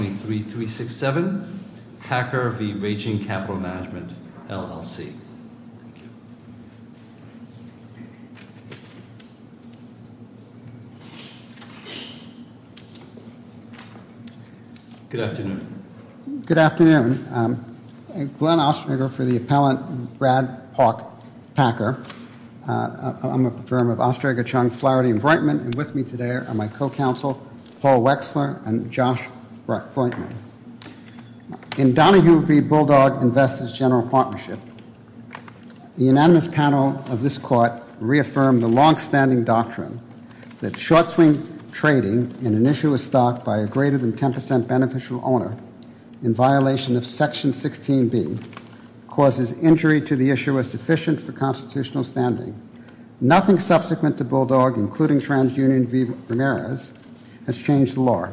Good afternoon. Good afternoon. I'm Glenn Osterger for the appellant Brad Park Packer. I'm a firm of Osterger, Chung, Flaherty & Breitman, and with me today are my co-counsel Paul Wexler and Josh Breitman. In Donahue v. Bulldog Investors General Partnership, the unanimous panel of this court reaffirmed the long-standing doctrine that short-swing trading in an issue of stock by a greater than 10% beneficial owner in violation of Section 16B causes injury to the issuer sufficient for constitutional standing. Nothing subsequent to Bulldog, including TransUnion v. Ramirez, has changed the law.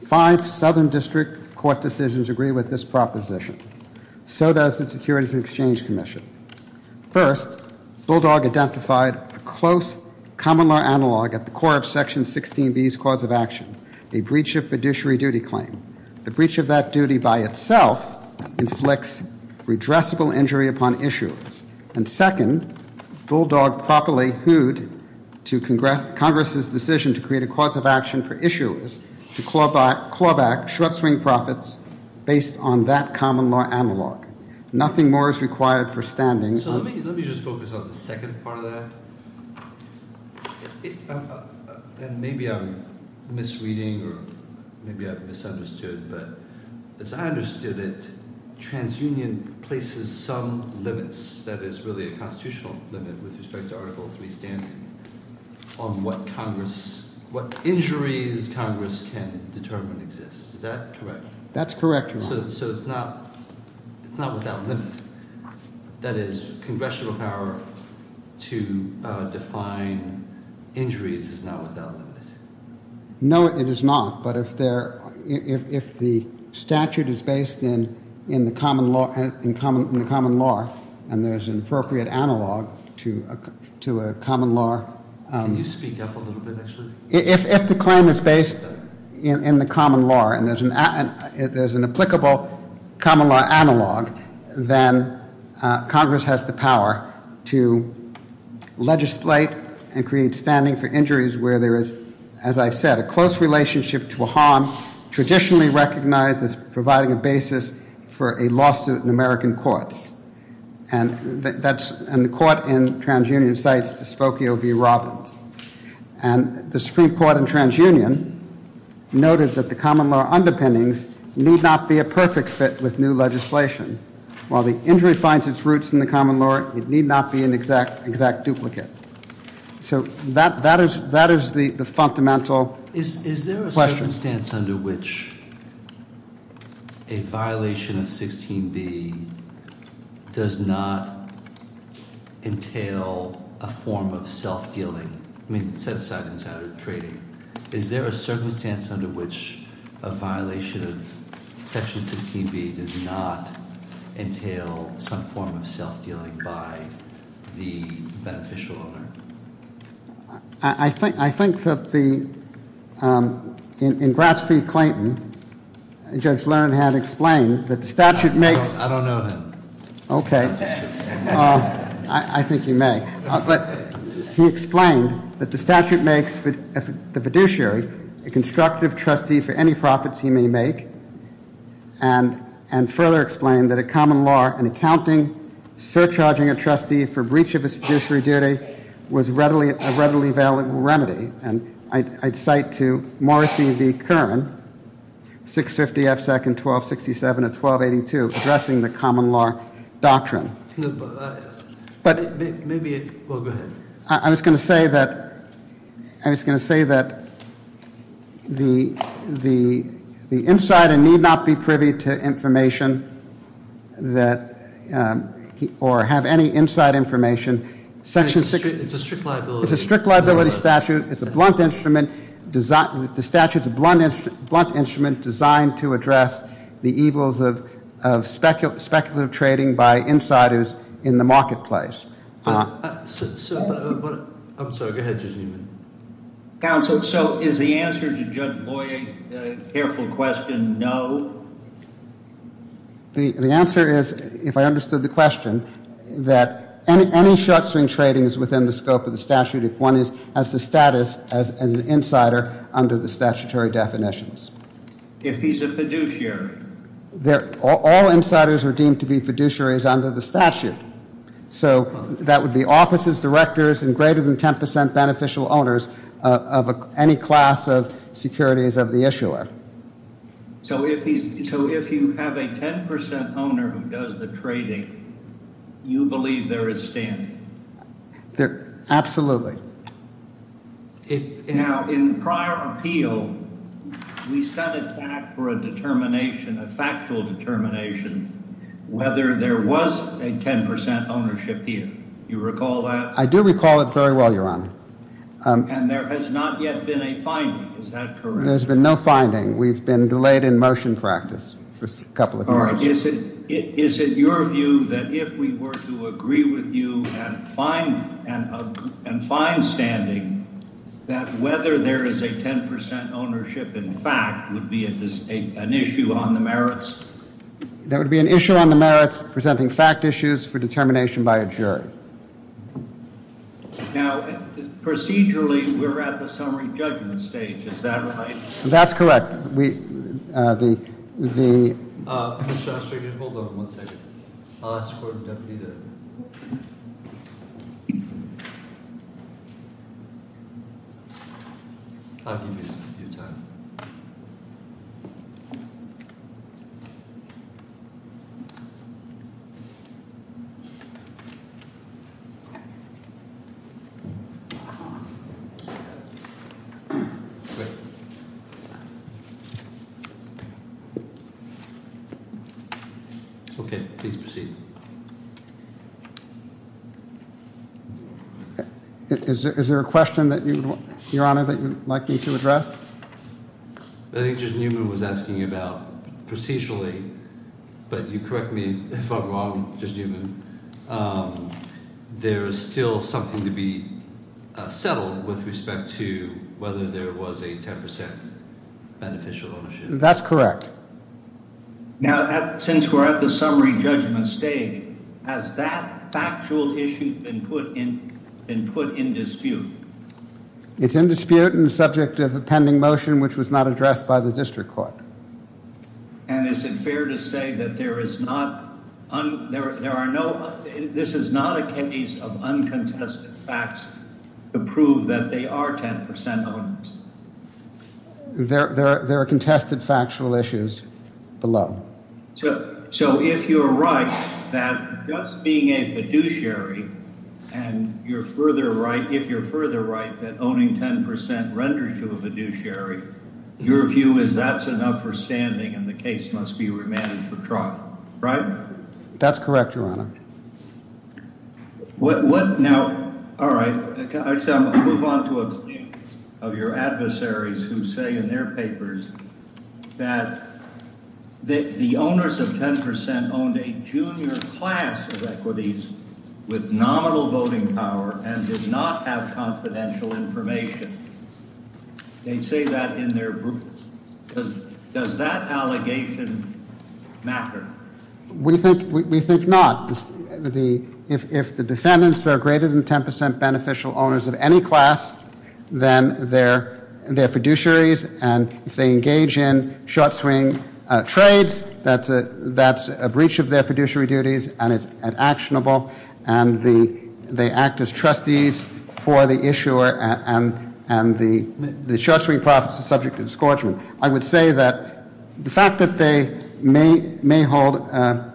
Five Southern District Court decisions agree with this proposition. So does the Securities and Exchange Commission. First, Bulldog identified a close common law analog at the core of Section 16B's cause of action, a breach of fiduciary duty claim. The breach of that duty by itself inflicts redressable injury upon issuers. And second, Bulldog properly hooded to Congress's decision to create a cause of action for issuers to claw back short-swing profits based on that common law analog. Nothing more is required for standing. So let me just focus on the second part of that. And maybe I'm misreading, or maybe I've misread it. The second part of that is that it places some limits, that is, really a constitutional limit with respect to Article III standing on what Congress, what injuries Congress can determine exist. Is that correct? That's correct, Your Honor. So it's not without limit? That is, congressional power to define injuries is not without limit? No, it is not. But if the statute is based in the common law and there's an appropriate analog to a common law... Can you speak up a little bit, actually? If the claim is based in the common law and there's an applicable common law analog, then legislate and create standing for injuries where there is, as I've said, a close relationship to a harm traditionally recognized as providing a basis for a lawsuit in American courts. And the court in TransUnion cites Spokio v. Robbins. And the Supreme Court in TransUnion noted that the common law underpinnings need not be a perfect fit with new legislation. While the injury finds its roots in the common law, it need not be an exact duplicate. So that is the fundamental question. Is there a circumstance under which a violation of 16b does not entail a form of self-dealing? I mean, set aside insider trading. Is there a circumstance under which a violation of section 16b does not entail some form of self-dealing by the beneficial owner? I think that in Grants v. Clayton, Judge Lerner had explained that the statute makes... I don't know him. Okay. I think you may. But he explained that the statute makes the fiduciary a constructive trustee for any profits he may make and further explained that a common law in accounting, surcharging a trustee for breach of his fiduciary duty was a readily valid remedy. And I'd cite to Morrissey v. Curran, 650 F. 2nd, 1267 and 1282, addressing the common law doctrine. But maybe... Well, go ahead. I was going to say that the insider need not be privy to information that... or have any inside information. It's a strict liability. It's a liability statute. It's a blunt instrument. The statute's a blunt instrument designed to address the evils of speculative trading by insiders in the marketplace. I'm sorry. Go ahead, just a minute. So is the answer to Judge Boyer's careful question no? The answer is, if I understood the question, that any short-swing trading is within the scope of the statute if one has the status as an insider under the statutory definitions. If he's a fiduciary? All insiders are deemed to be fiduciaries under the statute. So that would be offices, directors, and greater than 10% beneficial owners of any class of securities of the issuer. So if you have a 10% owner who does the trading, you believe there is standing? Absolutely. Now, in prior appeal, we set it back for a determination, a factual determination, whether there was a 10% ownership here. You recall that? I do recall it very well, Your Honor. And there has not yet been a finding. Is that correct? There's been no finding. We've been delayed in motion practice for a couple of years. Your Honor, is it your view that if we were to agree with you and find standing, that whether there is a 10% ownership in fact would be an issue on the merits? That would be an issue on the merits, presenting fact issues for determination by a jury. Now, procedurally, we're at the summary judgment stage. Is that right? That's correct. Mr. Ostrich, hold on one second. I'll ask the court of deputy to. I'll give you some of your time. Okay, please proceed. Is there a question that you, Your Honor, that you'd like me to address? I think Judge Newman was asking about procedurally, but you correct me if I'm wrong, Judge Newman. There's still something to be settled with respect to whether there was a 10% beneficial ownership. That's correct. Now, since we're at the summary judgment stage, has that factual issue been put in dispute? It's in dispute and the subject of a pending motion, which was not addressed by the district court. And is it fair to say that this is not a case of uncontested facts to prove that they are 10% owners? There are contested factual issues below. So if you're right that just being a fiduciary and you're further right, if you're further right that owning 10% renders you a fiduciary, your view is that's enough for standing and the case must be remanded for trial, right? That's correct, Your Honor. Now, all right. I'll move on to a point of your adversaries who say in their papers that the owners of 10% owned a junior class of equities with nominal voting power and did not have confidential information. They say that in their group. Does that allegation matter? We think not. If the defendants are greater than 10% beneficial owners of any class, then they're fiduciaries. And if they engage in short-swing trades, that's a breach of their fiduciary duties and it's unactionable. And they act as trustees for the issuer and the short-swing profits are subject to discouragement. I would say that the fact that they may hold a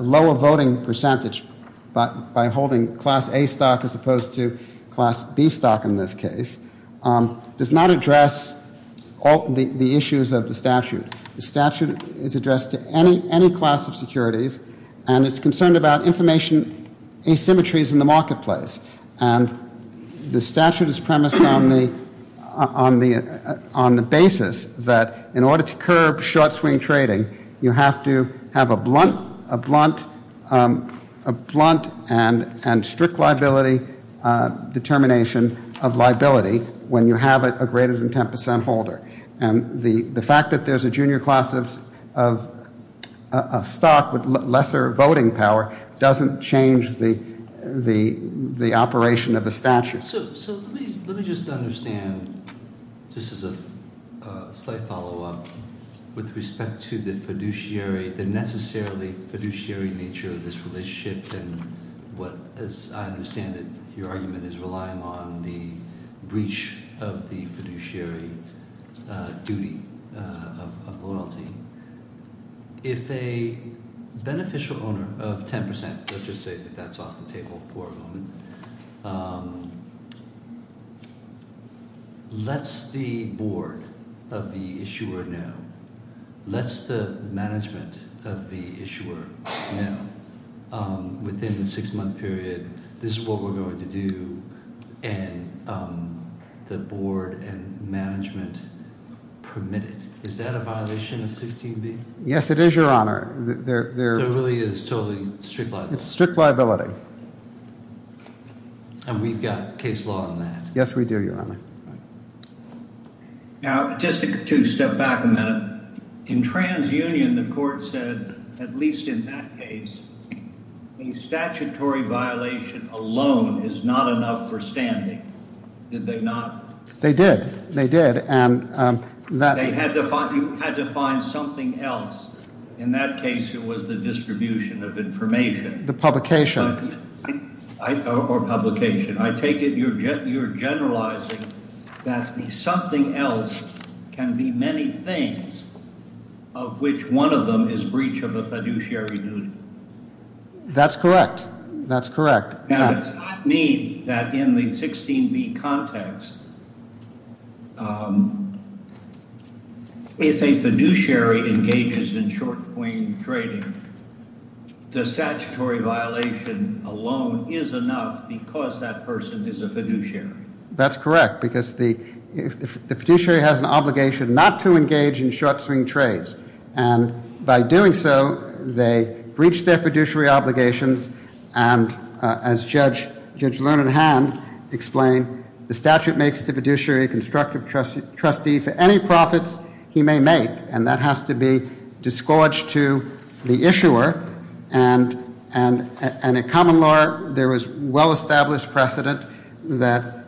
lower voting percentage by holding class A stock as opposed to class B stock in this case does not address the issues of the statute. The statute is addressed to any class of securities and it's concerned about information asymmetries in the marketplace. And the statute is premised on the basis that in order to curb short-swing trading, you have to have a blunt and strict liability determination of liability when you have a greater than 10% holder. And the fact that there's a junior class of stock with lesser voting power doesn't change the operation of the statute. Let me just understand, just as a slight follow-up, with respect to the fiduciary, the necessarily fiduciary nature of this relationship and what, as I understand it, your argument is relying on the breach of the fiduciary duty of loyalty. If a beneficial owner of 10%, let's just say that that's off the table for a moment, lets the board of the issuer know, lets the management of the issuer know within the six-month period, this is what we're going to do and the board and management permit it. Is that a violation of 16B? Yes, it is, Your Honor. There really is totally strict liability. It's strict liability. And we've got case law on that. Yes, we do, Your Honor. Now, just to step back a minute, in TransUnion, the court said, at least in that case, a statutory violation alone is not enough for standing. Did they not? They did. They did. They had to find something else. In that case, it was the distribution of information. The publication. Or publication. I take it you're generalizing that something else can be many things, of which one of them is breach of the fiduciary duty. That's correct. That's correct. Now, does that mean that in the 16B context, if a fiduciary engages in short swing trading, the statutory violation alone is enough because that person is a fiduciary? That's correct, because the fiduciary has an obligation not to engage in short swing trades. And by doing so, they breach their fiduciary obligations. And as Judge Lerner had explained, the statute makes the fiduciary a constructive trustee for any profits he may make. And that has to be disgorged to the issuer. And in common law, there was well-established precedent that,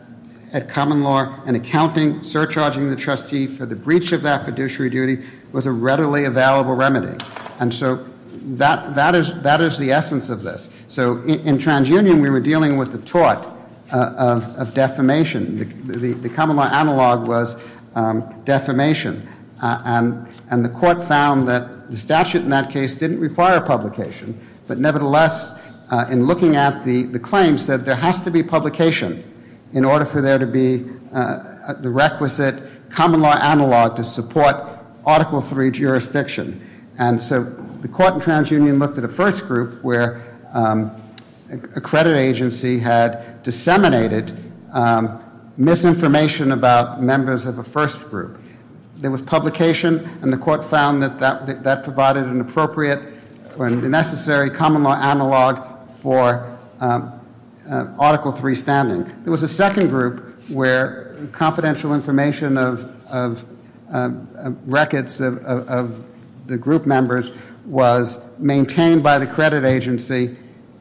in common law, an accounting surcharging the trustee for the breach of that fiduciary duty was a readily available remedy. And so that is the essence of this. So in TransUnion, we were dealing with the tort of defamation. The common law analog was defamation. And the court found that the statute in that case didn't require publication. But nevertheless, in looking at the claims, said there has to be publication in order for there to be the requisite common law analog to support Article III jurisdiction. And so the court in TransUnion looked at a first group where a credit agency had disseminated misinformation about members of a first group. There was publication, and the court found that that provided an appropriate or a necessary common law analog for Article III standing. There was a second group where confidential information of records of the group members was maintained by the credit agency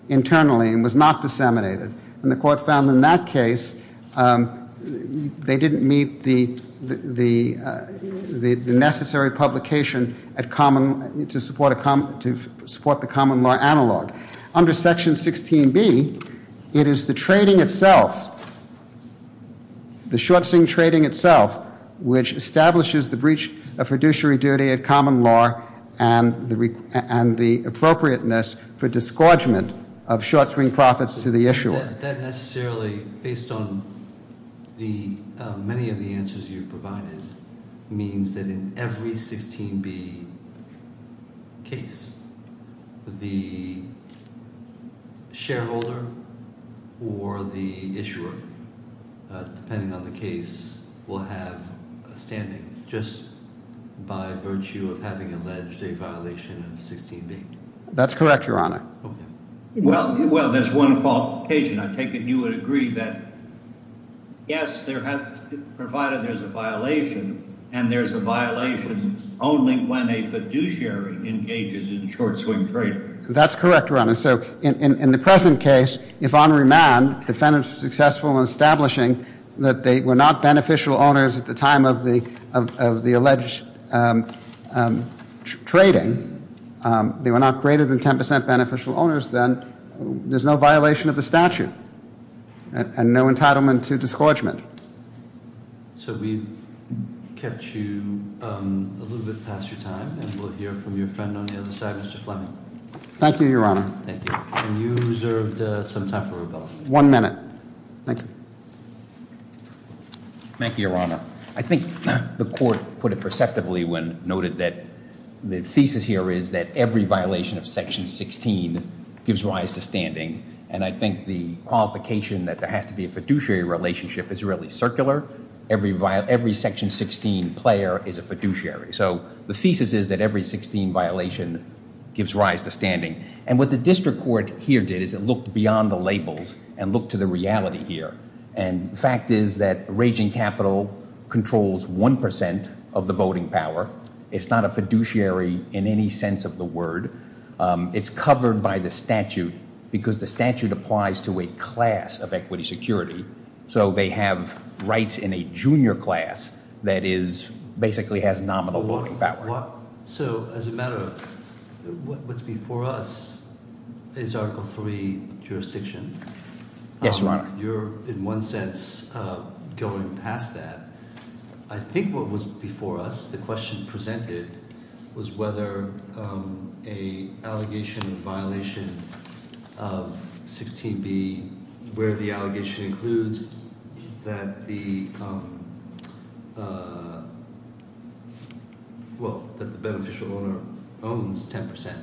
internally and was not disseminated. And the court found in that case, they didn't meet the necessary publication to support the common law analog. Under Section 16B, it is the trading itself, the short swing trading itself, which establishes the breach of fiduciary duty at common law and the appropriateness for disgorgement of short swing profits to the issuer. That necessarily, based on many of the answers you've provided, means that in every 16B case, the shareholder or the issuer, depending on the case, will have a standing just by virtue of having alleged a violation of 16B. That's correct, Your Honor. Okay. Well, there's one qualification. I take it you would agree that yes, provided there's a violation, and there's a violation only when a fiduciary engages in short swing trading. That's correct, Your Honor. So in the present case, if on remand, defendants are successful in establishing that they were not beneficial owners at the time of the alleged trading, they were not greater than 10% beneficial owners, then there's no violation of the statute and no entitlement to disgorgement. So we've kept you a little bit past your time, and we'll hear from your friend on the other side, Mr. Fleming. Thank you, Your Honor. Thank you. And you reserved some time for rebuttal. One minute. Thank you. Thank you, Your Honor. I think the Court put it perceptibly when noted that the thesis here is that every violation of Section 16 gives rise to standing, and I think the qualification that there has to be a fiduciary relationship is really circular. Every Section 16 player is a fiduciary. So the thesis is that every 16 violation gives rise to standing. And what the district court here did is it looked beyond the labels and looked to the reality here, and the fact is that raging capital controls 1% of the voting power. It's not a fiduciary in any sense of the word. It's covered by the statute because the statute applies to a class of equity security, so they have rights in a junior class that basically has nominal voting power. So as a matter of what's before us is Article III jurisdiction. Yes, Your Honor. You're, in one sense, going past that. I think what was before us, the question presented, was whether an allegation of violation of 16B, where the allegation includes that the beneficial owner owns 10%.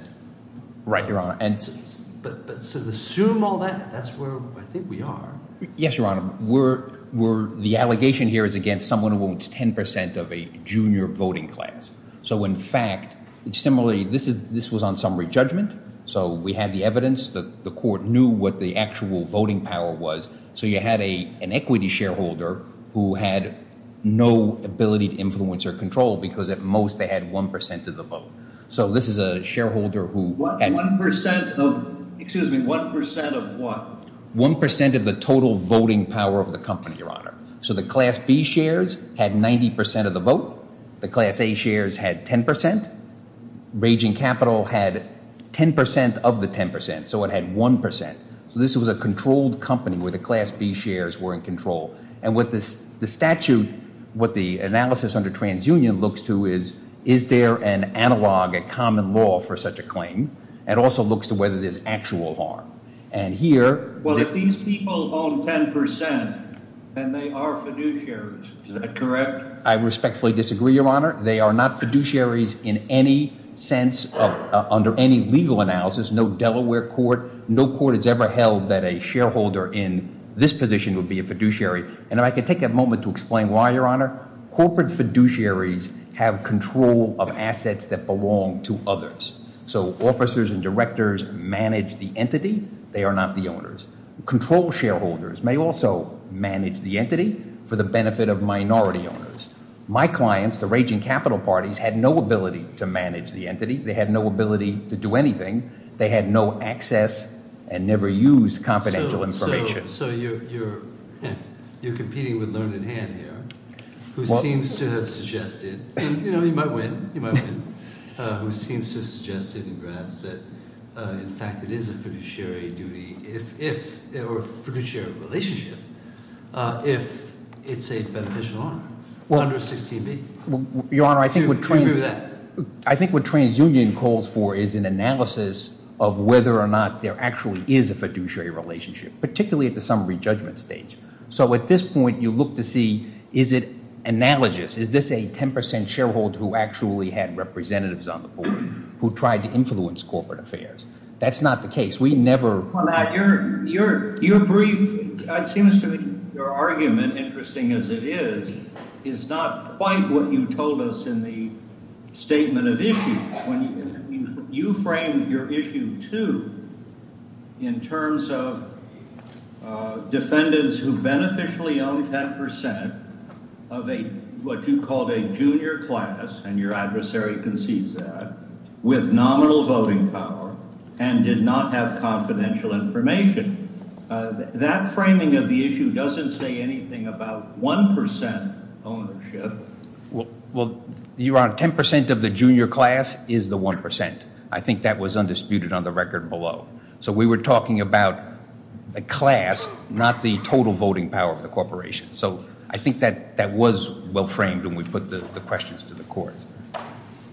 Right, Your Honor. But to assume all that, that's where I think we are. Yes, Your Honor. The allegation here is against someone who owns 10% of a junior voting class. So in fact, similarly, this was on summary judgment, so we had the evidence that the court knew what the actual voting power was. So you had an equity shareholder who had no ability to influence or control because at most they had 1% of the vote. So this is a shareholder who had— 1% of, excuse me, 1% of what? 1% of the total voting power of the company, Your Honor. So the Class B shares had 90% of the vote. The Class A shares had 10%. Raging Capital had 10% of the 10%, so it had 1%. So this was a controlled company where the Class B shares were in control. And what the statute, what the analysis under TransUnion looks to is, is there an analog, a common law for such a claim? It also looks to whether there's actual harm. And here— Well, if these people own 10%, then they are fiduciaries. Is that correct? I respectfully disagree, Your Honor. They are not fiduciaries in any sense under any legal analysis. No Delaware court, no court has ever held that a shareholder in this position would be a fiduciary. And if I could take a moment to explain why, Your Honor. Corporate fiduciaries have control of assets that belong to others. So officers and directors manage the entity. They are not the owners. Control shareholders may also manage the entity for the benefit of minority owners. My clients, the Raging Capital parties, had no ability to manage the entity. They had no ability to do anything. They had no access and never used confidential information. So you're competing with learned in hand here, who seems to have suggested—you know, you might win. You might win. Who seems to have suggested in Gratz that, in fact, it is a fiduciary duty if—or fiduciary relationship if it's a beneficial owner under 16B. Your Honor, I think what TransUnion calls for is an analysis of whether or not there actually is a fiduciary relationship, particularly at the summary judgment stage. So at this point, you look to see, is it analogous? Is this a 10 percent shareholder who actually had representatives on the board who tried to influence corporate affairs? That's not the case. We never— Your brief, it seems to me, your argument, interesting as it is, is not quite what you told us in the statement of issue. You framed your issue, too, in terms of defendants who beneficially owned 10 percent of what you called a junior class, and your adversary concedes that, with nominal voting power and did not have confidential information. That framing of the issue doesn't say anything about 1 percent ownership. Well, Your Honor, 10 percent of the junior class is the 1 percent. I think that was undisputed on the record below. So we were talking about a class, not the total voting power of the corporation. So I think that was well framed when we put the questions to the Court.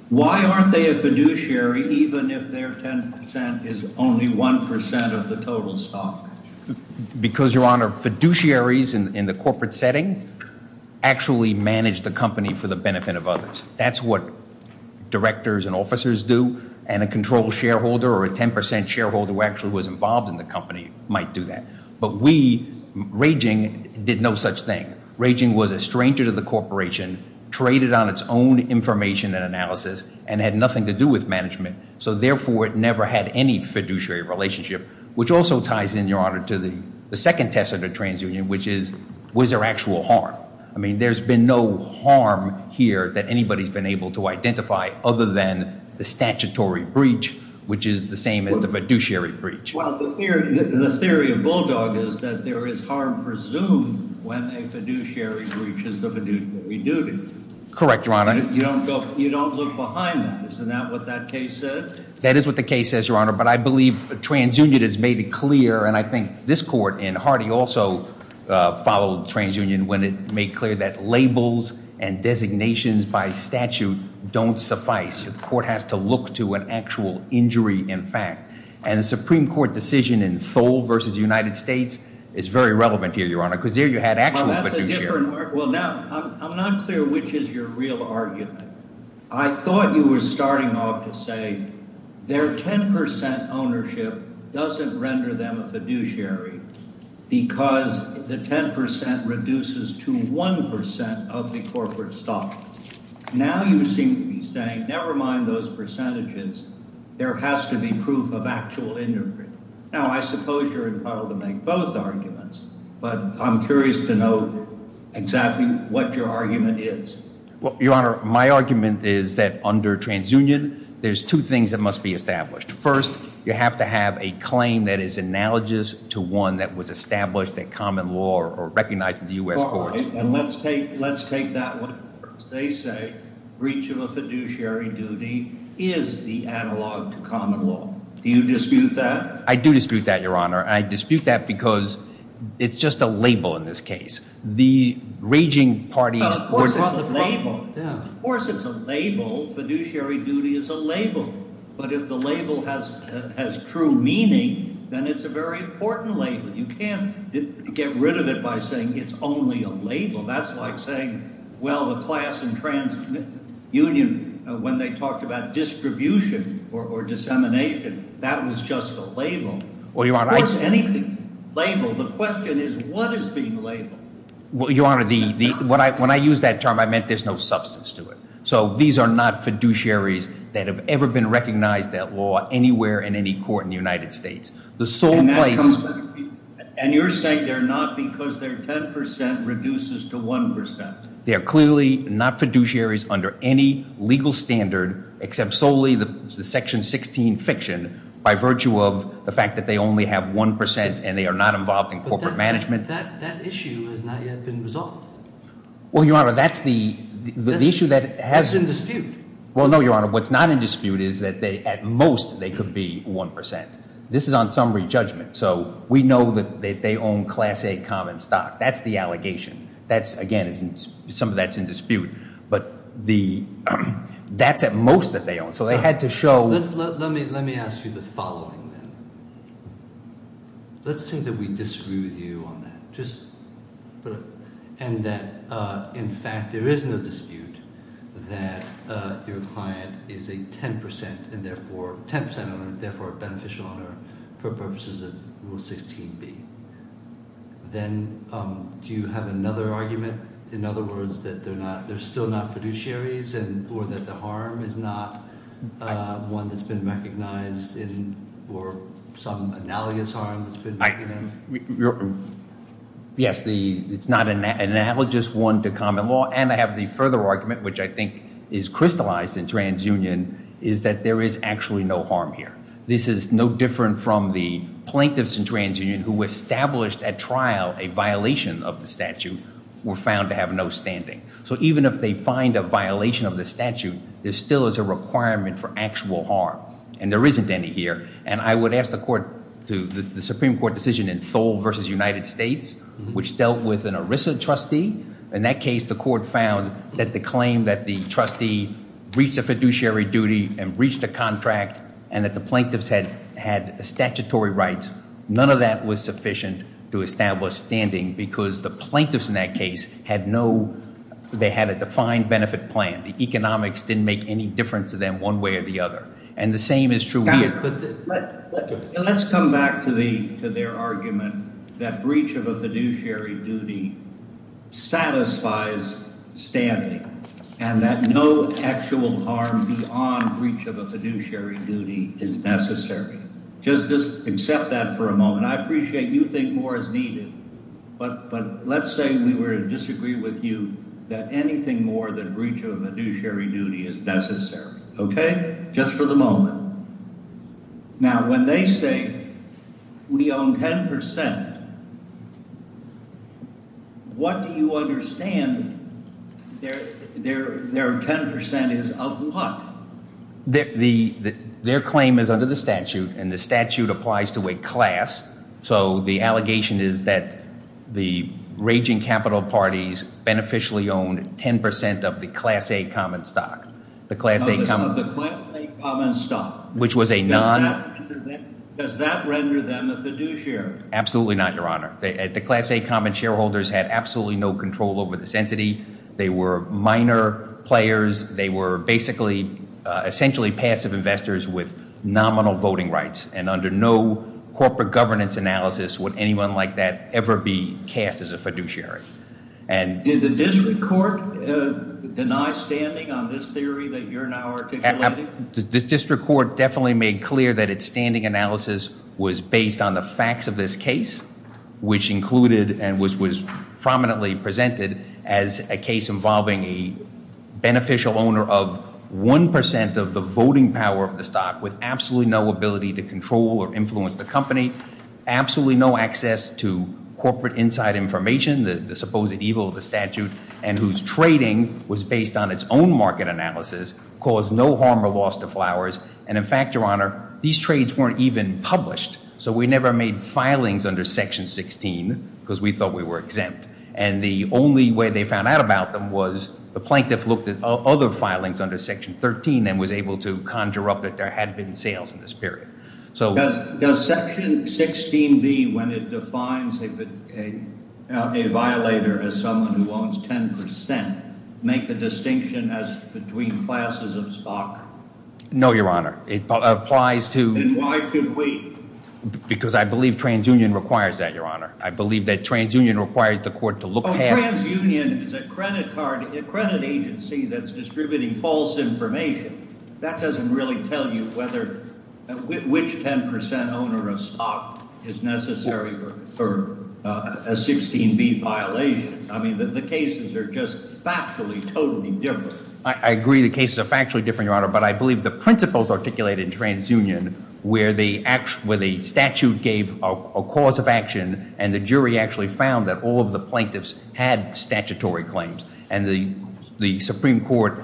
Why aren't they a fiduciary even if their 10 percent is only 1 percent of the total stock? Because, Your Honor, fiduciaries in the corporate setting actually manage the company for the benefit of others. That's what directors and officers do, and a controlled shareholder or a 10 percent shareholder who actually was involved in the company might do that. But we, Raging, did no such thing. Raging was a stranger to the corporation, traded on its own information and analysis, and had nothing to do with management. So, therefore, it never had any fiduciary relationship, which also ties in, Your Honor, to the second test of the transunion, which is was there actual harm? I mean, there's been no harm here that anybody's been able to identify other than the statutory breach, which is the same as the fiduciary breach. Well, the theory of Bulldog is that there is harm presumed when a fiduciary breach is a fiduciary duty. Correct, Your Honor. You don't look behind that. Isn't that what that case said? That is what the case says, Your Honor. But I believe transunion has made it clear, and I think this court and Hardy also followed transunion when it made clear that labels and designations by statute don't suffice. The court has to look to an actual injury in fact. And the Supreme Court decision in Thole v. United States is very relevant here, Your Honor, because there you had actual fiduciaries. Well, now I'm not clear which is your real argument. I thought you were starting off to say their 10 percent ownership doesn't render them a fiduciary because the 10 percent reduces to 1 percent of the corporate stock. Now you seem to be saying never mind those percentages. There has to be proof of actual injury. Now, I suppose you're entitled to make both arguments, but I'm curious to know exactly what your argument is. Well, Your Honor, my argument is that under transunion there's two things that must be established. First, you have to have a claim that is analogous to one that was established at common law or recognized in the U.S. courts. All right, and let's take that one. They say breach of a fiduciary duty is the analog to common law. Do you dispute that? I do dispute that, Your Honor, and I dispute that because it's just a label in this case. The raging parties were drawn the problem. Of course it's a label. Of course it's a label. Fiduciary duty is a label. But if the label has true meaning, then it's a very important label. You can't get rid of it by saying it's only a label. That's like saying, well, the class in transunion, when they talked about distribution or dissemination, that was just a label. Of course anything is a label. The question is what is being labeled? Well, Your Honor, when I used that term, I meant there's no substance to it. So these are not fiduciaries that have ever been recognized at law anywhere in any court in the United States. And you're saying they're not because their 10% reduces to 1%. They are clearly not fiduciaries under any legal standard except solely the Section 16 fiction by virtue of the fact that they only have 1% and they are not involved in corporate management. But that issue has not yet been resolved. Well, Your Honor, that's the issue that has been— That's in dispute. Well, no, Your Honor. What's not in dispute is that at most they could be 1%. This is on summary judgment, so we know that they own Class A common stock. That's the allegation. That's, again, some of that's in dispute. But that's at most that they own. So they had to show— Let me ask you the following then. Let's say that we disagree with you on that. And that, in fact, there is no dispute that your client is a 10% owner, therefore a beneficial owner for purposes of Rule 16b. Then do you have another argument? In other words, that they're still not fiduciaries or that the harm is not one that's been recognized or some analogous harm that's been recognized? Yes, it's not an analogous one to common law. And I have the further argument, which I think is crystallized in TransUnion, is that there is actually no harm here. This is no different from the plaintiffs in TransUnion who established at trial a violation of the statute were found to have no standing. So even if they find a violation of the statute, there still is a requirement for actual harm. And there isn't any here. And I would ask the Supreme Court decision in Thole v. United States, which dealt with an ERISA trustee. In that case, the court found that the claim that the trustee reached a fiduciary duty and reached a contract and that the plaintiffs had statutory rights, none of that was sufficient to establish standing because the plaintiffs in that case had no—they had a defined benefit plan. The economics didn't make any difference to them one way or the other. And the same is true here. Let's come back to their argument that breach of a fiduciary duty satisfies standing and that no actual harm beyond breach of a fiduciary duty is necessary. Just accept that for a moment. I appreciate you think more is needed, but let's say we were to disagree with you that anything more than breach of a fiduciary duty is necessary. Okay? Just for the moment. Now, when they say we own 10 percent, what do you understand their 10 percent is of what? Their claim is under the statute, and the statute applies to a class. So the allegation is that the raging capital parties beneficially owned 10 percent of the Class A common stock. Notice of the Class A common stock. Which was a non— Does that render them a fiduciary? Absolutely not, Your Honor. The Class A common shareholders had absolutely no control over this entity. They were minor players. They were basically—essentially passive investors with nominal voting rights, and under no corporate governance analysis would anyone like that ever be cast as a fiduciary. Did the district court deny standing on this theory that you're now articulating? The district court definitely made clear that its standing analysis was based on the facts of this case, which included and which was prominently presented as a case involving a beneficial owner of 1 percent of the voting power of the stock with absolutely no ability to control or influence the company, absolutely no access to corporate inside information, the supposed evil of the statute, and whose trading was based on its own market analysis caused no harm or loss to Flowers. And in fact, Your Honor, these trades weren't even published, so we never made filings under Section 16 because we thought we were exempt. And the only way they found out about them was the plaintiff looked at other filings under Section 13 and was able to conjure up that there had been sales in this period. Does Section 16b, when it defines a violator as someone who owns 10 percent, make the distinction as between classes of stock? No, Your Honor. It applies to… Then why could we? Because I believe TransUnion requires that, Your Honor. I believe that TransUnion requires the court to look past… Oh, TransUnion is a credit agency that's distributing false information. That doesn't really tell you which 10 percent owner of stock is necessary for a 16b violation. I mean, the cases are just factually totally different. I agree the cases are factually different, Your Honor, but I believe the principles articulated in TransUnion where the statute gave a cause of action and the jury actually found that all of the plaintiffs had statutory claims and the Supreme Court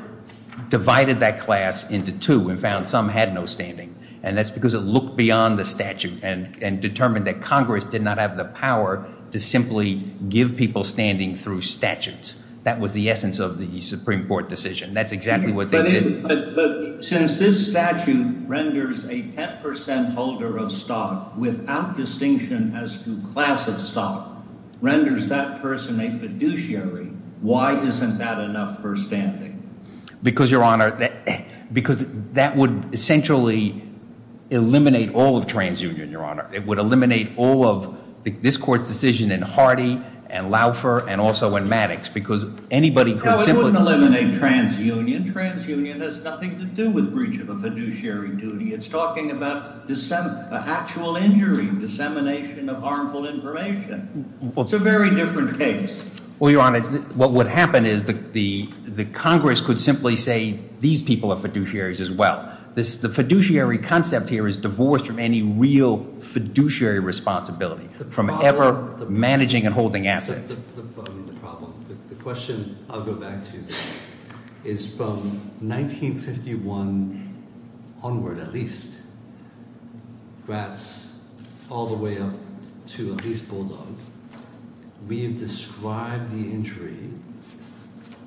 divided that class into two and found some had no standing, and that's because it looked beyond the statute and determined that Congress did not have the power to simply give people standing through statutes. That was the essence of the Supreme Court decision. That's exactly what they did. But since this statute renders a 10 percent holder of stock without distinction as to class of stock, renders that person a fiduciary, why isn't that enough for standing? Because, Your Honor, that would essentially eliminate all of TransUnion, Your Honor. It would eliminate all of this court's decision in Hardy and Laufer and also in Maddox because anybody could simply… No, it wouldn't eliminate TransUnion. TransUnion has nothing to do with breach of a fiduciary duty. It's talking about actual injury, dissemination of harmful information. It's a very different case. Well, Your Honor, what would happen is the Congress could simply say these people are fiduciaries as well. The fiduciary concept here is divorced from any real fiduciary responsibility, from ever managing and holding assets. The question I'll go back to is from 1951 onward at least, rats all the way up to at least bulldog, we have described the injury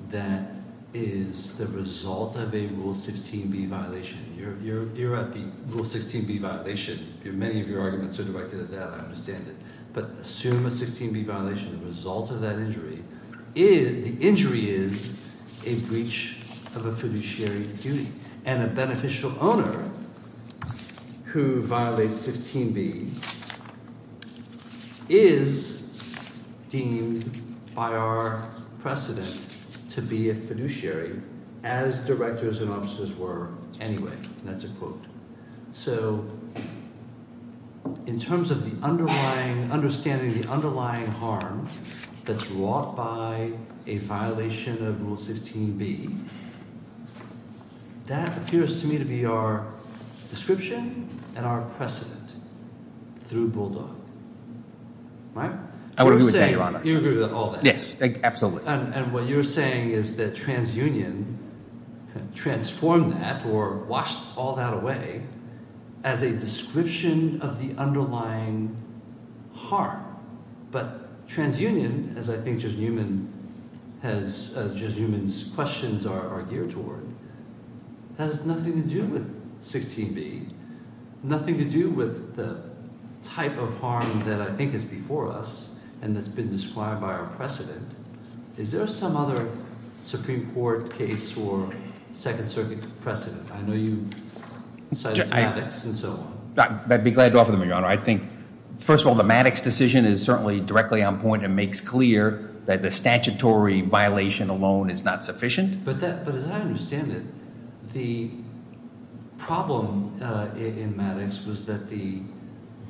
that is the result of a Rule 16b violation. You're at the Rule 16b violation. Many of your arguments are directed at that. I understand it. But assume a 16b violation is the result of that injury. The injury is a breach of a fiduciary duty and a beneficial owner who violates 16b is deemed by our precedent to be a fiduciary as directors and officers were anyway. That's a quote. So in terms of the underlying – understanding the underlying harm that's wrought by a violation of Rule 16b, that appears to me to be our description and our precedent through bulldog. Right? I agree with that, Your Honor. You agree with all that? Yes, absolutely. And what you're saying is that transunion transformed that or washed all that away as a description of the underlying harm. But transunion, as I think Judge Newman has – Judge Newman's questions are geared toward, has nothing to do with 16b, nothing to do with the type of harm that I think is before us and that's been described by our precedent. Is there some other Supreme Court case or Second Circuit precedent? I know you cited Maddox and so on. I'd be glad to offer them, Your Honor. First of all, the Maddox decision is certainly directly on point and makes clear that the statutory violation alone is not sufficient. But as I understand it, the problem in Maddox was that the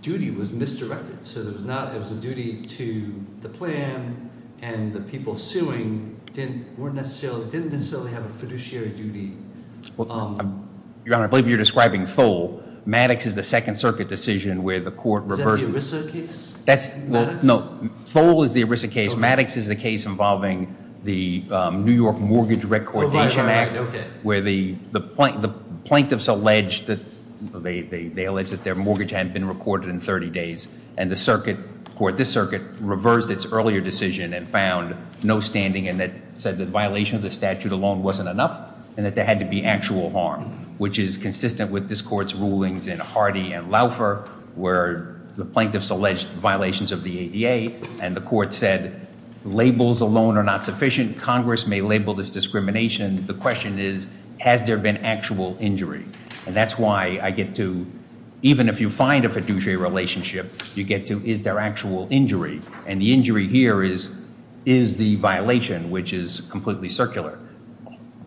duty was misdirected. So it was a duty to the plan and the people suing didn't necessarily have a fiduciary duty. Your Honor, I believe you're describing Thole. Maddox is the Second Circuit decision where the court reversed – Is that the ERISA case in Maddox? No, Thole is the ERISA case. Maddox is the case involving the New York Mortgage Recordation Act where the plaintiffs alleged that their mortgage hadn't been recorded in 30 days. And the circuit – this circuit reversed its earlier decision and found no standing in it, said the violation of the statute alone wasn't enough and that there had to be actual harm, which is consistent with this court's rulings in Hardy and Laufer where the plaintiffs alleged violations of the ADA. And the court said labels alone are not sufficient. Congress may label this discrimination. The question is, has there been actual injury? And that's why I get to – even if you find a fiduciary relationship, you get to, is there actual injury? And the injury here is, is the violation, which is completely circular.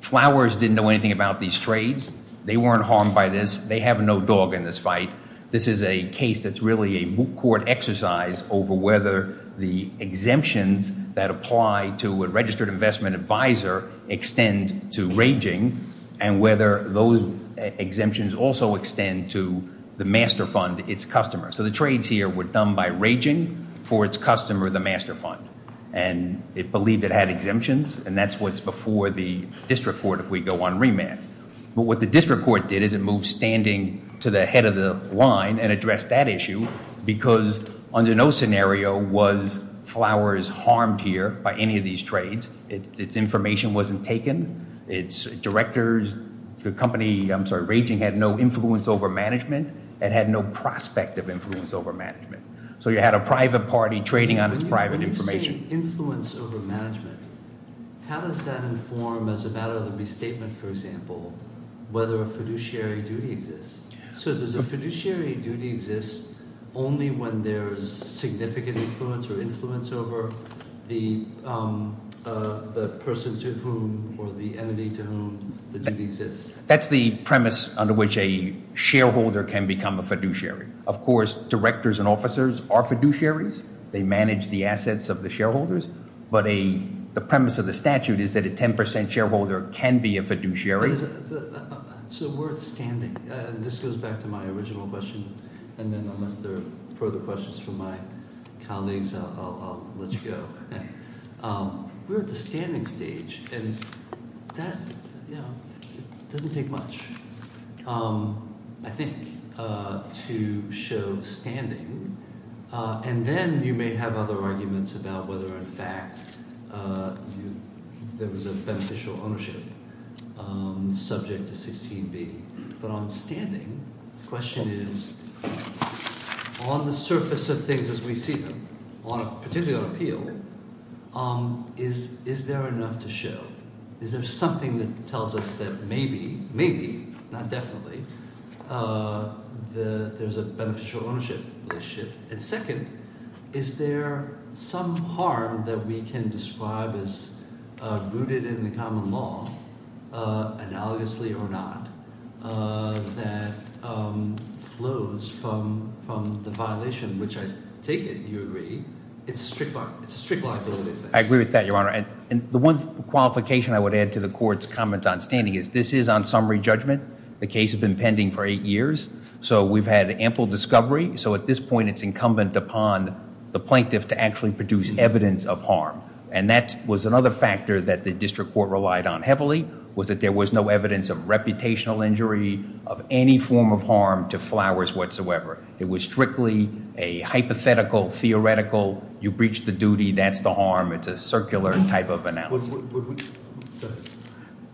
Flowers didn't know anything about these trades. They weren't harmed by this. They have no dog in this fight. This is a case that's really a court exercise over whether the exemptions that apply to a registered investment advisor extend to raging and whether those exemptions also extend to the master fund, its customer. So the trades here were done by raging for its customer, the master fund. And it believed it had exemptions, and that's what's before the district court if we go on remand. But what the district court did is it moved standing to the head of the line and addressed that issue because under no scenario was Flowers harmed here by any of these trades. Its information wasn't taken. Its directors, the company, I'm sorry, raging had no influence over management and had no prospect of influence over management. So you had a private party trading on its private information. When you say influence over management, how does that inform as a matter of the restatement, for example, whether a fiduciary duty exists? So does a fiduciary duty exist only when there's significant influence or influence over the person to whom or the entity to whom the duty exists? That's the premise under which a shareholder can become a fiduciary. Of course, directors and officers are fiduciaries. They manage the assets of the shareholders. But the premise of the statute is that a 10% shareholder can be a fiduciary. So we're at standing, and this goes back to my original question. And then unless there are further questions from my colleagues, I'll let you go. We're at the standing stage, and that doesn't take much, I think, to show standing. And then you may have other arguments about whether, in fact, there was a beneficial ownership subject to 16B. But on standing, the question is, on the surface of things as we see them, particularly on appeal, is there enough to show? Is there something that tells us that maybe, maybe, not definitely, there's a beneficial ownership relationship? And second, is there some harm that we can describe as rooted in the common law, analogously or not, that flows from the violation, which I take it, you agree, it's a strict liability thing. I agree with that, Your Honor. And the one qualification I would add to the court's comment on standing is this is on summary judgment. The case has been pending for eight years. So we've had ample discovery. So at this point, it's incumbent upon the plaintiff to actually produce evidence of harm. And that was another factor that the district court relied on heavily, was that there was no evidence of reputational injury, of any form of harm to Flowers whatsoever. It was strictly a hypothetical, theoretical, you breach the duty, that's the harm. It's a circular type of analysis.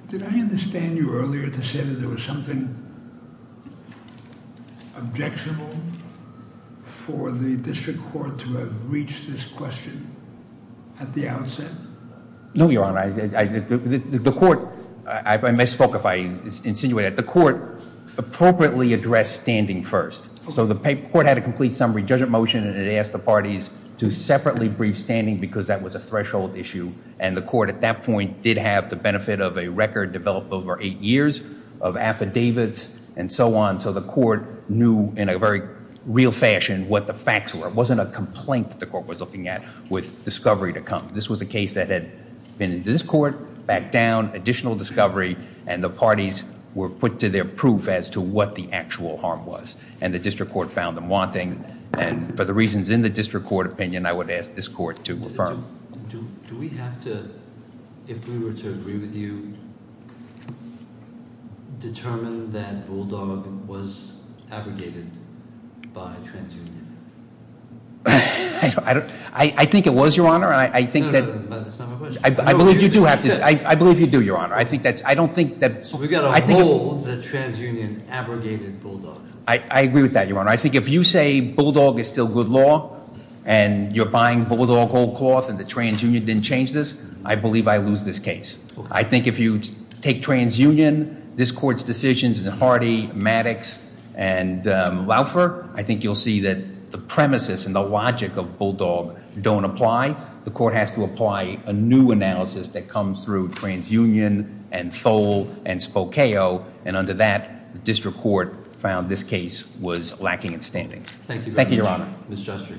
Did I understand you earlier to say that there was something objectionable for the district court to have reached this question at the outset? No, Your Honor. The court, I misspoke if I insinuate that. The court appropriately addressed standing first. So the court had a complete summary judgment motion. And it asked the parties to separately brief standing because that was a threshold issue. And the court at that point did have the benefit of a record developed over eight years of affidavits and so on. So the court knew in a very real fashion what the facts were. It wasn't a complaint that the court was looking at with discovery to come. This was a case that had been in this court, back down, additional discovery. And the parties were put to their proof as to what the actual harm was. And the district court found them wanting. And for the reasons in the district court opinion, I would ask this court to affirm. Do we have to, if we were to agree with you, determine that Bulldog was abrogated by TransUnion? I think it was, Your Honor. No, that's not my question. I believe you do, Your Honor. So we've got to hold that TransUnion abrogated Bulldog. I agree with that, Your Honor. I think if you say Bulldog is still good law and you're buying Bulldog whole cloth and the TransUnion didn't change this, I believe I lose this case. I think if you take TransUnion, this court's decisions in Hardy, Maddox, and Laufer, I think you'll see that the premises and the logic of Bulldog don't apply. The court has to apply a new analysis that comes through TransUnion and Thole and Spokeo. And under that, the district court found this case was lacking in standing. Thank you very much. Thank you, Your Honor. Ms. Justry.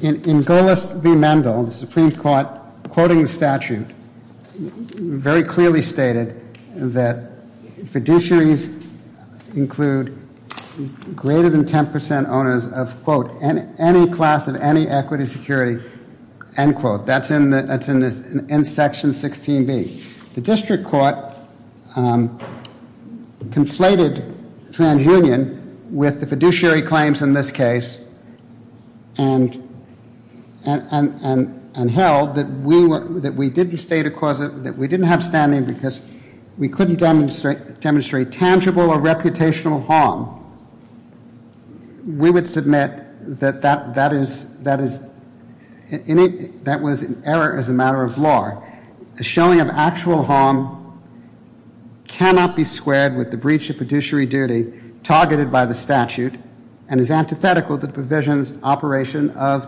In Golos v. Mendel, the Supreme Court, quoting the statute, very clearly stated that fiduciaries include greater than 10% owners of, quote, any class of any equity security, end quote. That's in section 16B. The district court conflated TransUnion with the fiduciary claims in this case and held that we didn't have standing because we couldn't demonstrate tangible or reputational harm. We would submit that that was an error as a matter of law. A showing of actual harm cannot be squared with the breach of fiduciary duty targeted by the statute and is antithetical to the provision's operation of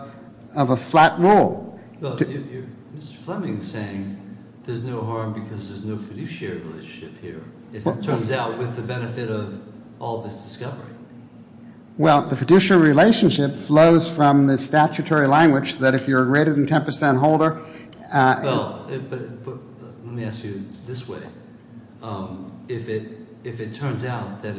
a flat rule. Mr. Fleming's saying there's no harm because there's no fiduciary relationship here. It turns out with the benefit of all this discovery. Well, the fiduciary relationship flows from the statutory language that if you're a greater than 10% holder- Well, let me ask you this way. If it turns out that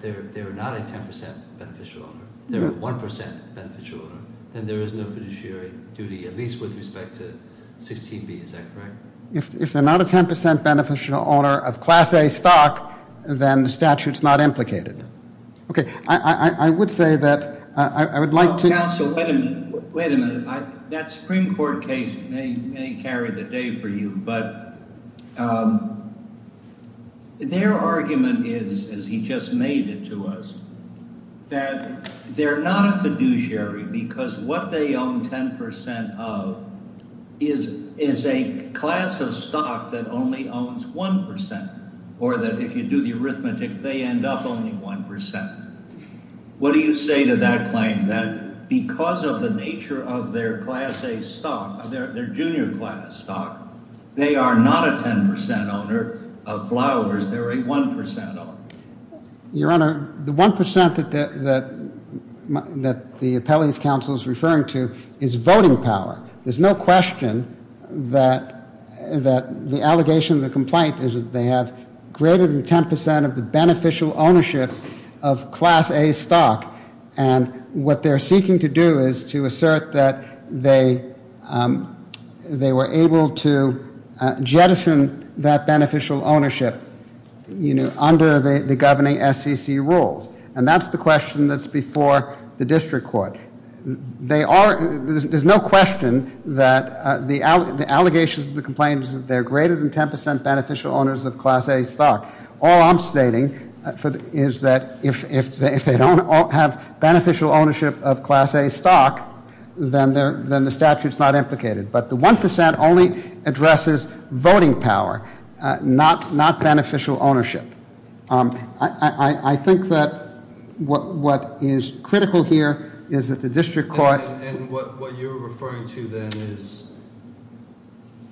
they're not a 10% beneficial owner, they're a 1% beneficial owner, then there is no fiduciary duty, at least with respect to 16B. Is that correct? If they're not a 10% beneficial owner of Class A stock, then the statute's not implicated. Okay, I would say that I would like to- Counsel, wait a minute. That Supreme Court case may carry the day for you, but their argument is, as he just made it to us, that they're not a fiduciary because what they own 10% of is a class of stock that only owns 1%, or that if you do the arithmetic, they end up owning 1%. What do you say to that claim, that because of the nature of their Class A stock, their junior class stock, they are not a 10% owner of flowers, they're a 1% owner? Your Honor, the 1% that the appellee's counsel is referring to is voting power. There's no question that the allegation of the complaint is that they have greater than 10% of the beneficial ownership of Class A stock, and what they're seeking to do is to assert that they were able to jettison that beneficial ownership under the governing SEC rules, and that's the question that's before the district court. There's no question that the allegations of the complaint is that they're greater than 10% beneficial owners of Class A stock. All I'm stating is that if they don't have beneficial ownership of Class A stock, then the statute's not implicated. But the 1% only addresses voting power, not beneficial ownership. I think that what is critical here is that the district court- And what you're referring to then is,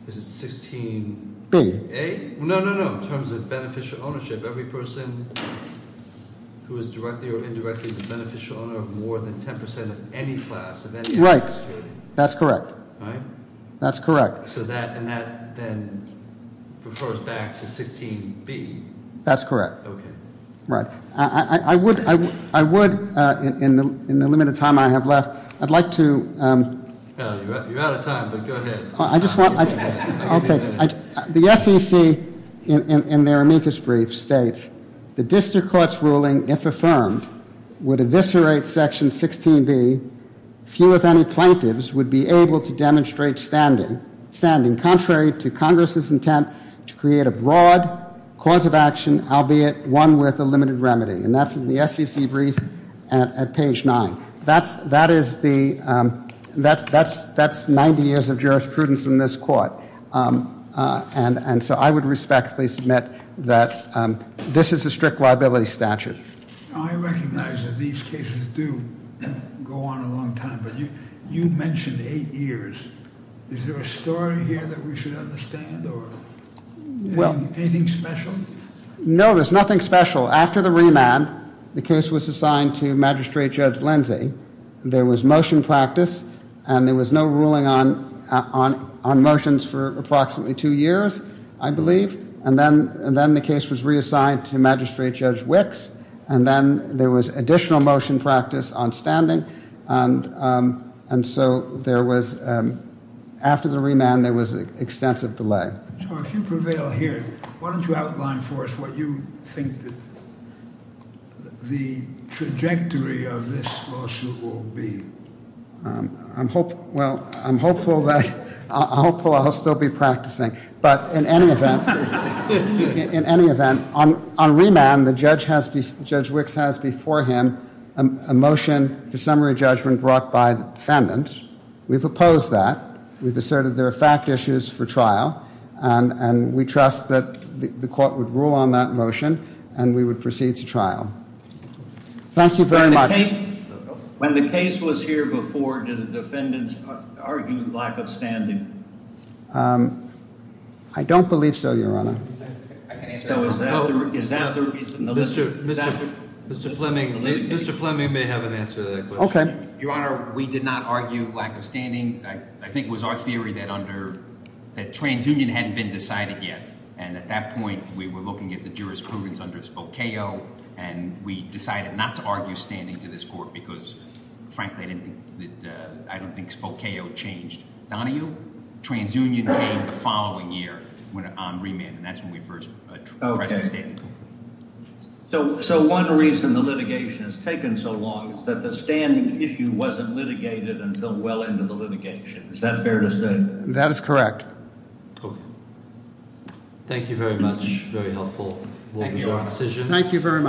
is it 16- B. A? No, no, no. In terms of beneficial ownership, every person who is directly or indirectly the beneficial owner of more than 10% of any class of any- Right. That's correct. Right? That's correct. So that then refers back to 16-B. That's correct. Okay. Right. I would, in the limited time I have left, I'd like to- You're out of time, but go ahead. I just want- Okay. The SEC in their amicus brief states, the district court's ruling, if affirmed, would eviscerate Section 16-B. Few, if any, plaintiffs would be able to demonstrate standing, contrary to Congress's intent to create a broad cause of action, albeit one with a limited remedy. And that's in the SEC brief at page 9. That's 90 years of jurisprudence in this court. And so I would respectfully submit that this is a strict liability statute. I recognize that these cases do go on a long time, but you mentioned eight years. Is there a story here that we should understand or anything special? No, there's nothing special. After the remand, the case was assigned to Magistrate Judge Lindsey. There was motion practice, and there was no ruling on motions for approximately two years, I believe. And then the case was reassigned to Magistrate Judge Wicks, and then there was additional motion practice on standing. And so there was, after the remand, there was extensive delay. So if you prevail here, why don't you outline for us what you think the trajectory of this lawsuit will be? Well, I'm hopeful I'll still be practicing. But in any event, on remand, Judge Wicks has before him a motion for summary judgment brought by the defendant. We've opposed that. We've asserted there are fact issues for trial. And we trust that the court would rule on that motion, and we would proceed to trial. Thank you very much. When the case was here before, did the defendants argue lack of standing? I don't believe so, Your Honor. Is that the reason? Mr. Fleming may have an answer to that question. Okay. Your Honor, we did not argue lack of standing. I think it was our theory that under – that TransUnion hadn't been decided yet. And at that point, we were looking at the jurisprudence under Spokeo, and we decided not to argue standing to this court because, frankly, I don't think Spokeo changed Donahue. TransUnion came the following year on remand, and that's when we first pressed the standing court. So one reason the litigation has taken so long is that the standing issue wasn't litigated until well into the litigation. Is that fair to say? That is correct. Thank you very much. Very helpful. Thank you, Your Honor. Thank you very much.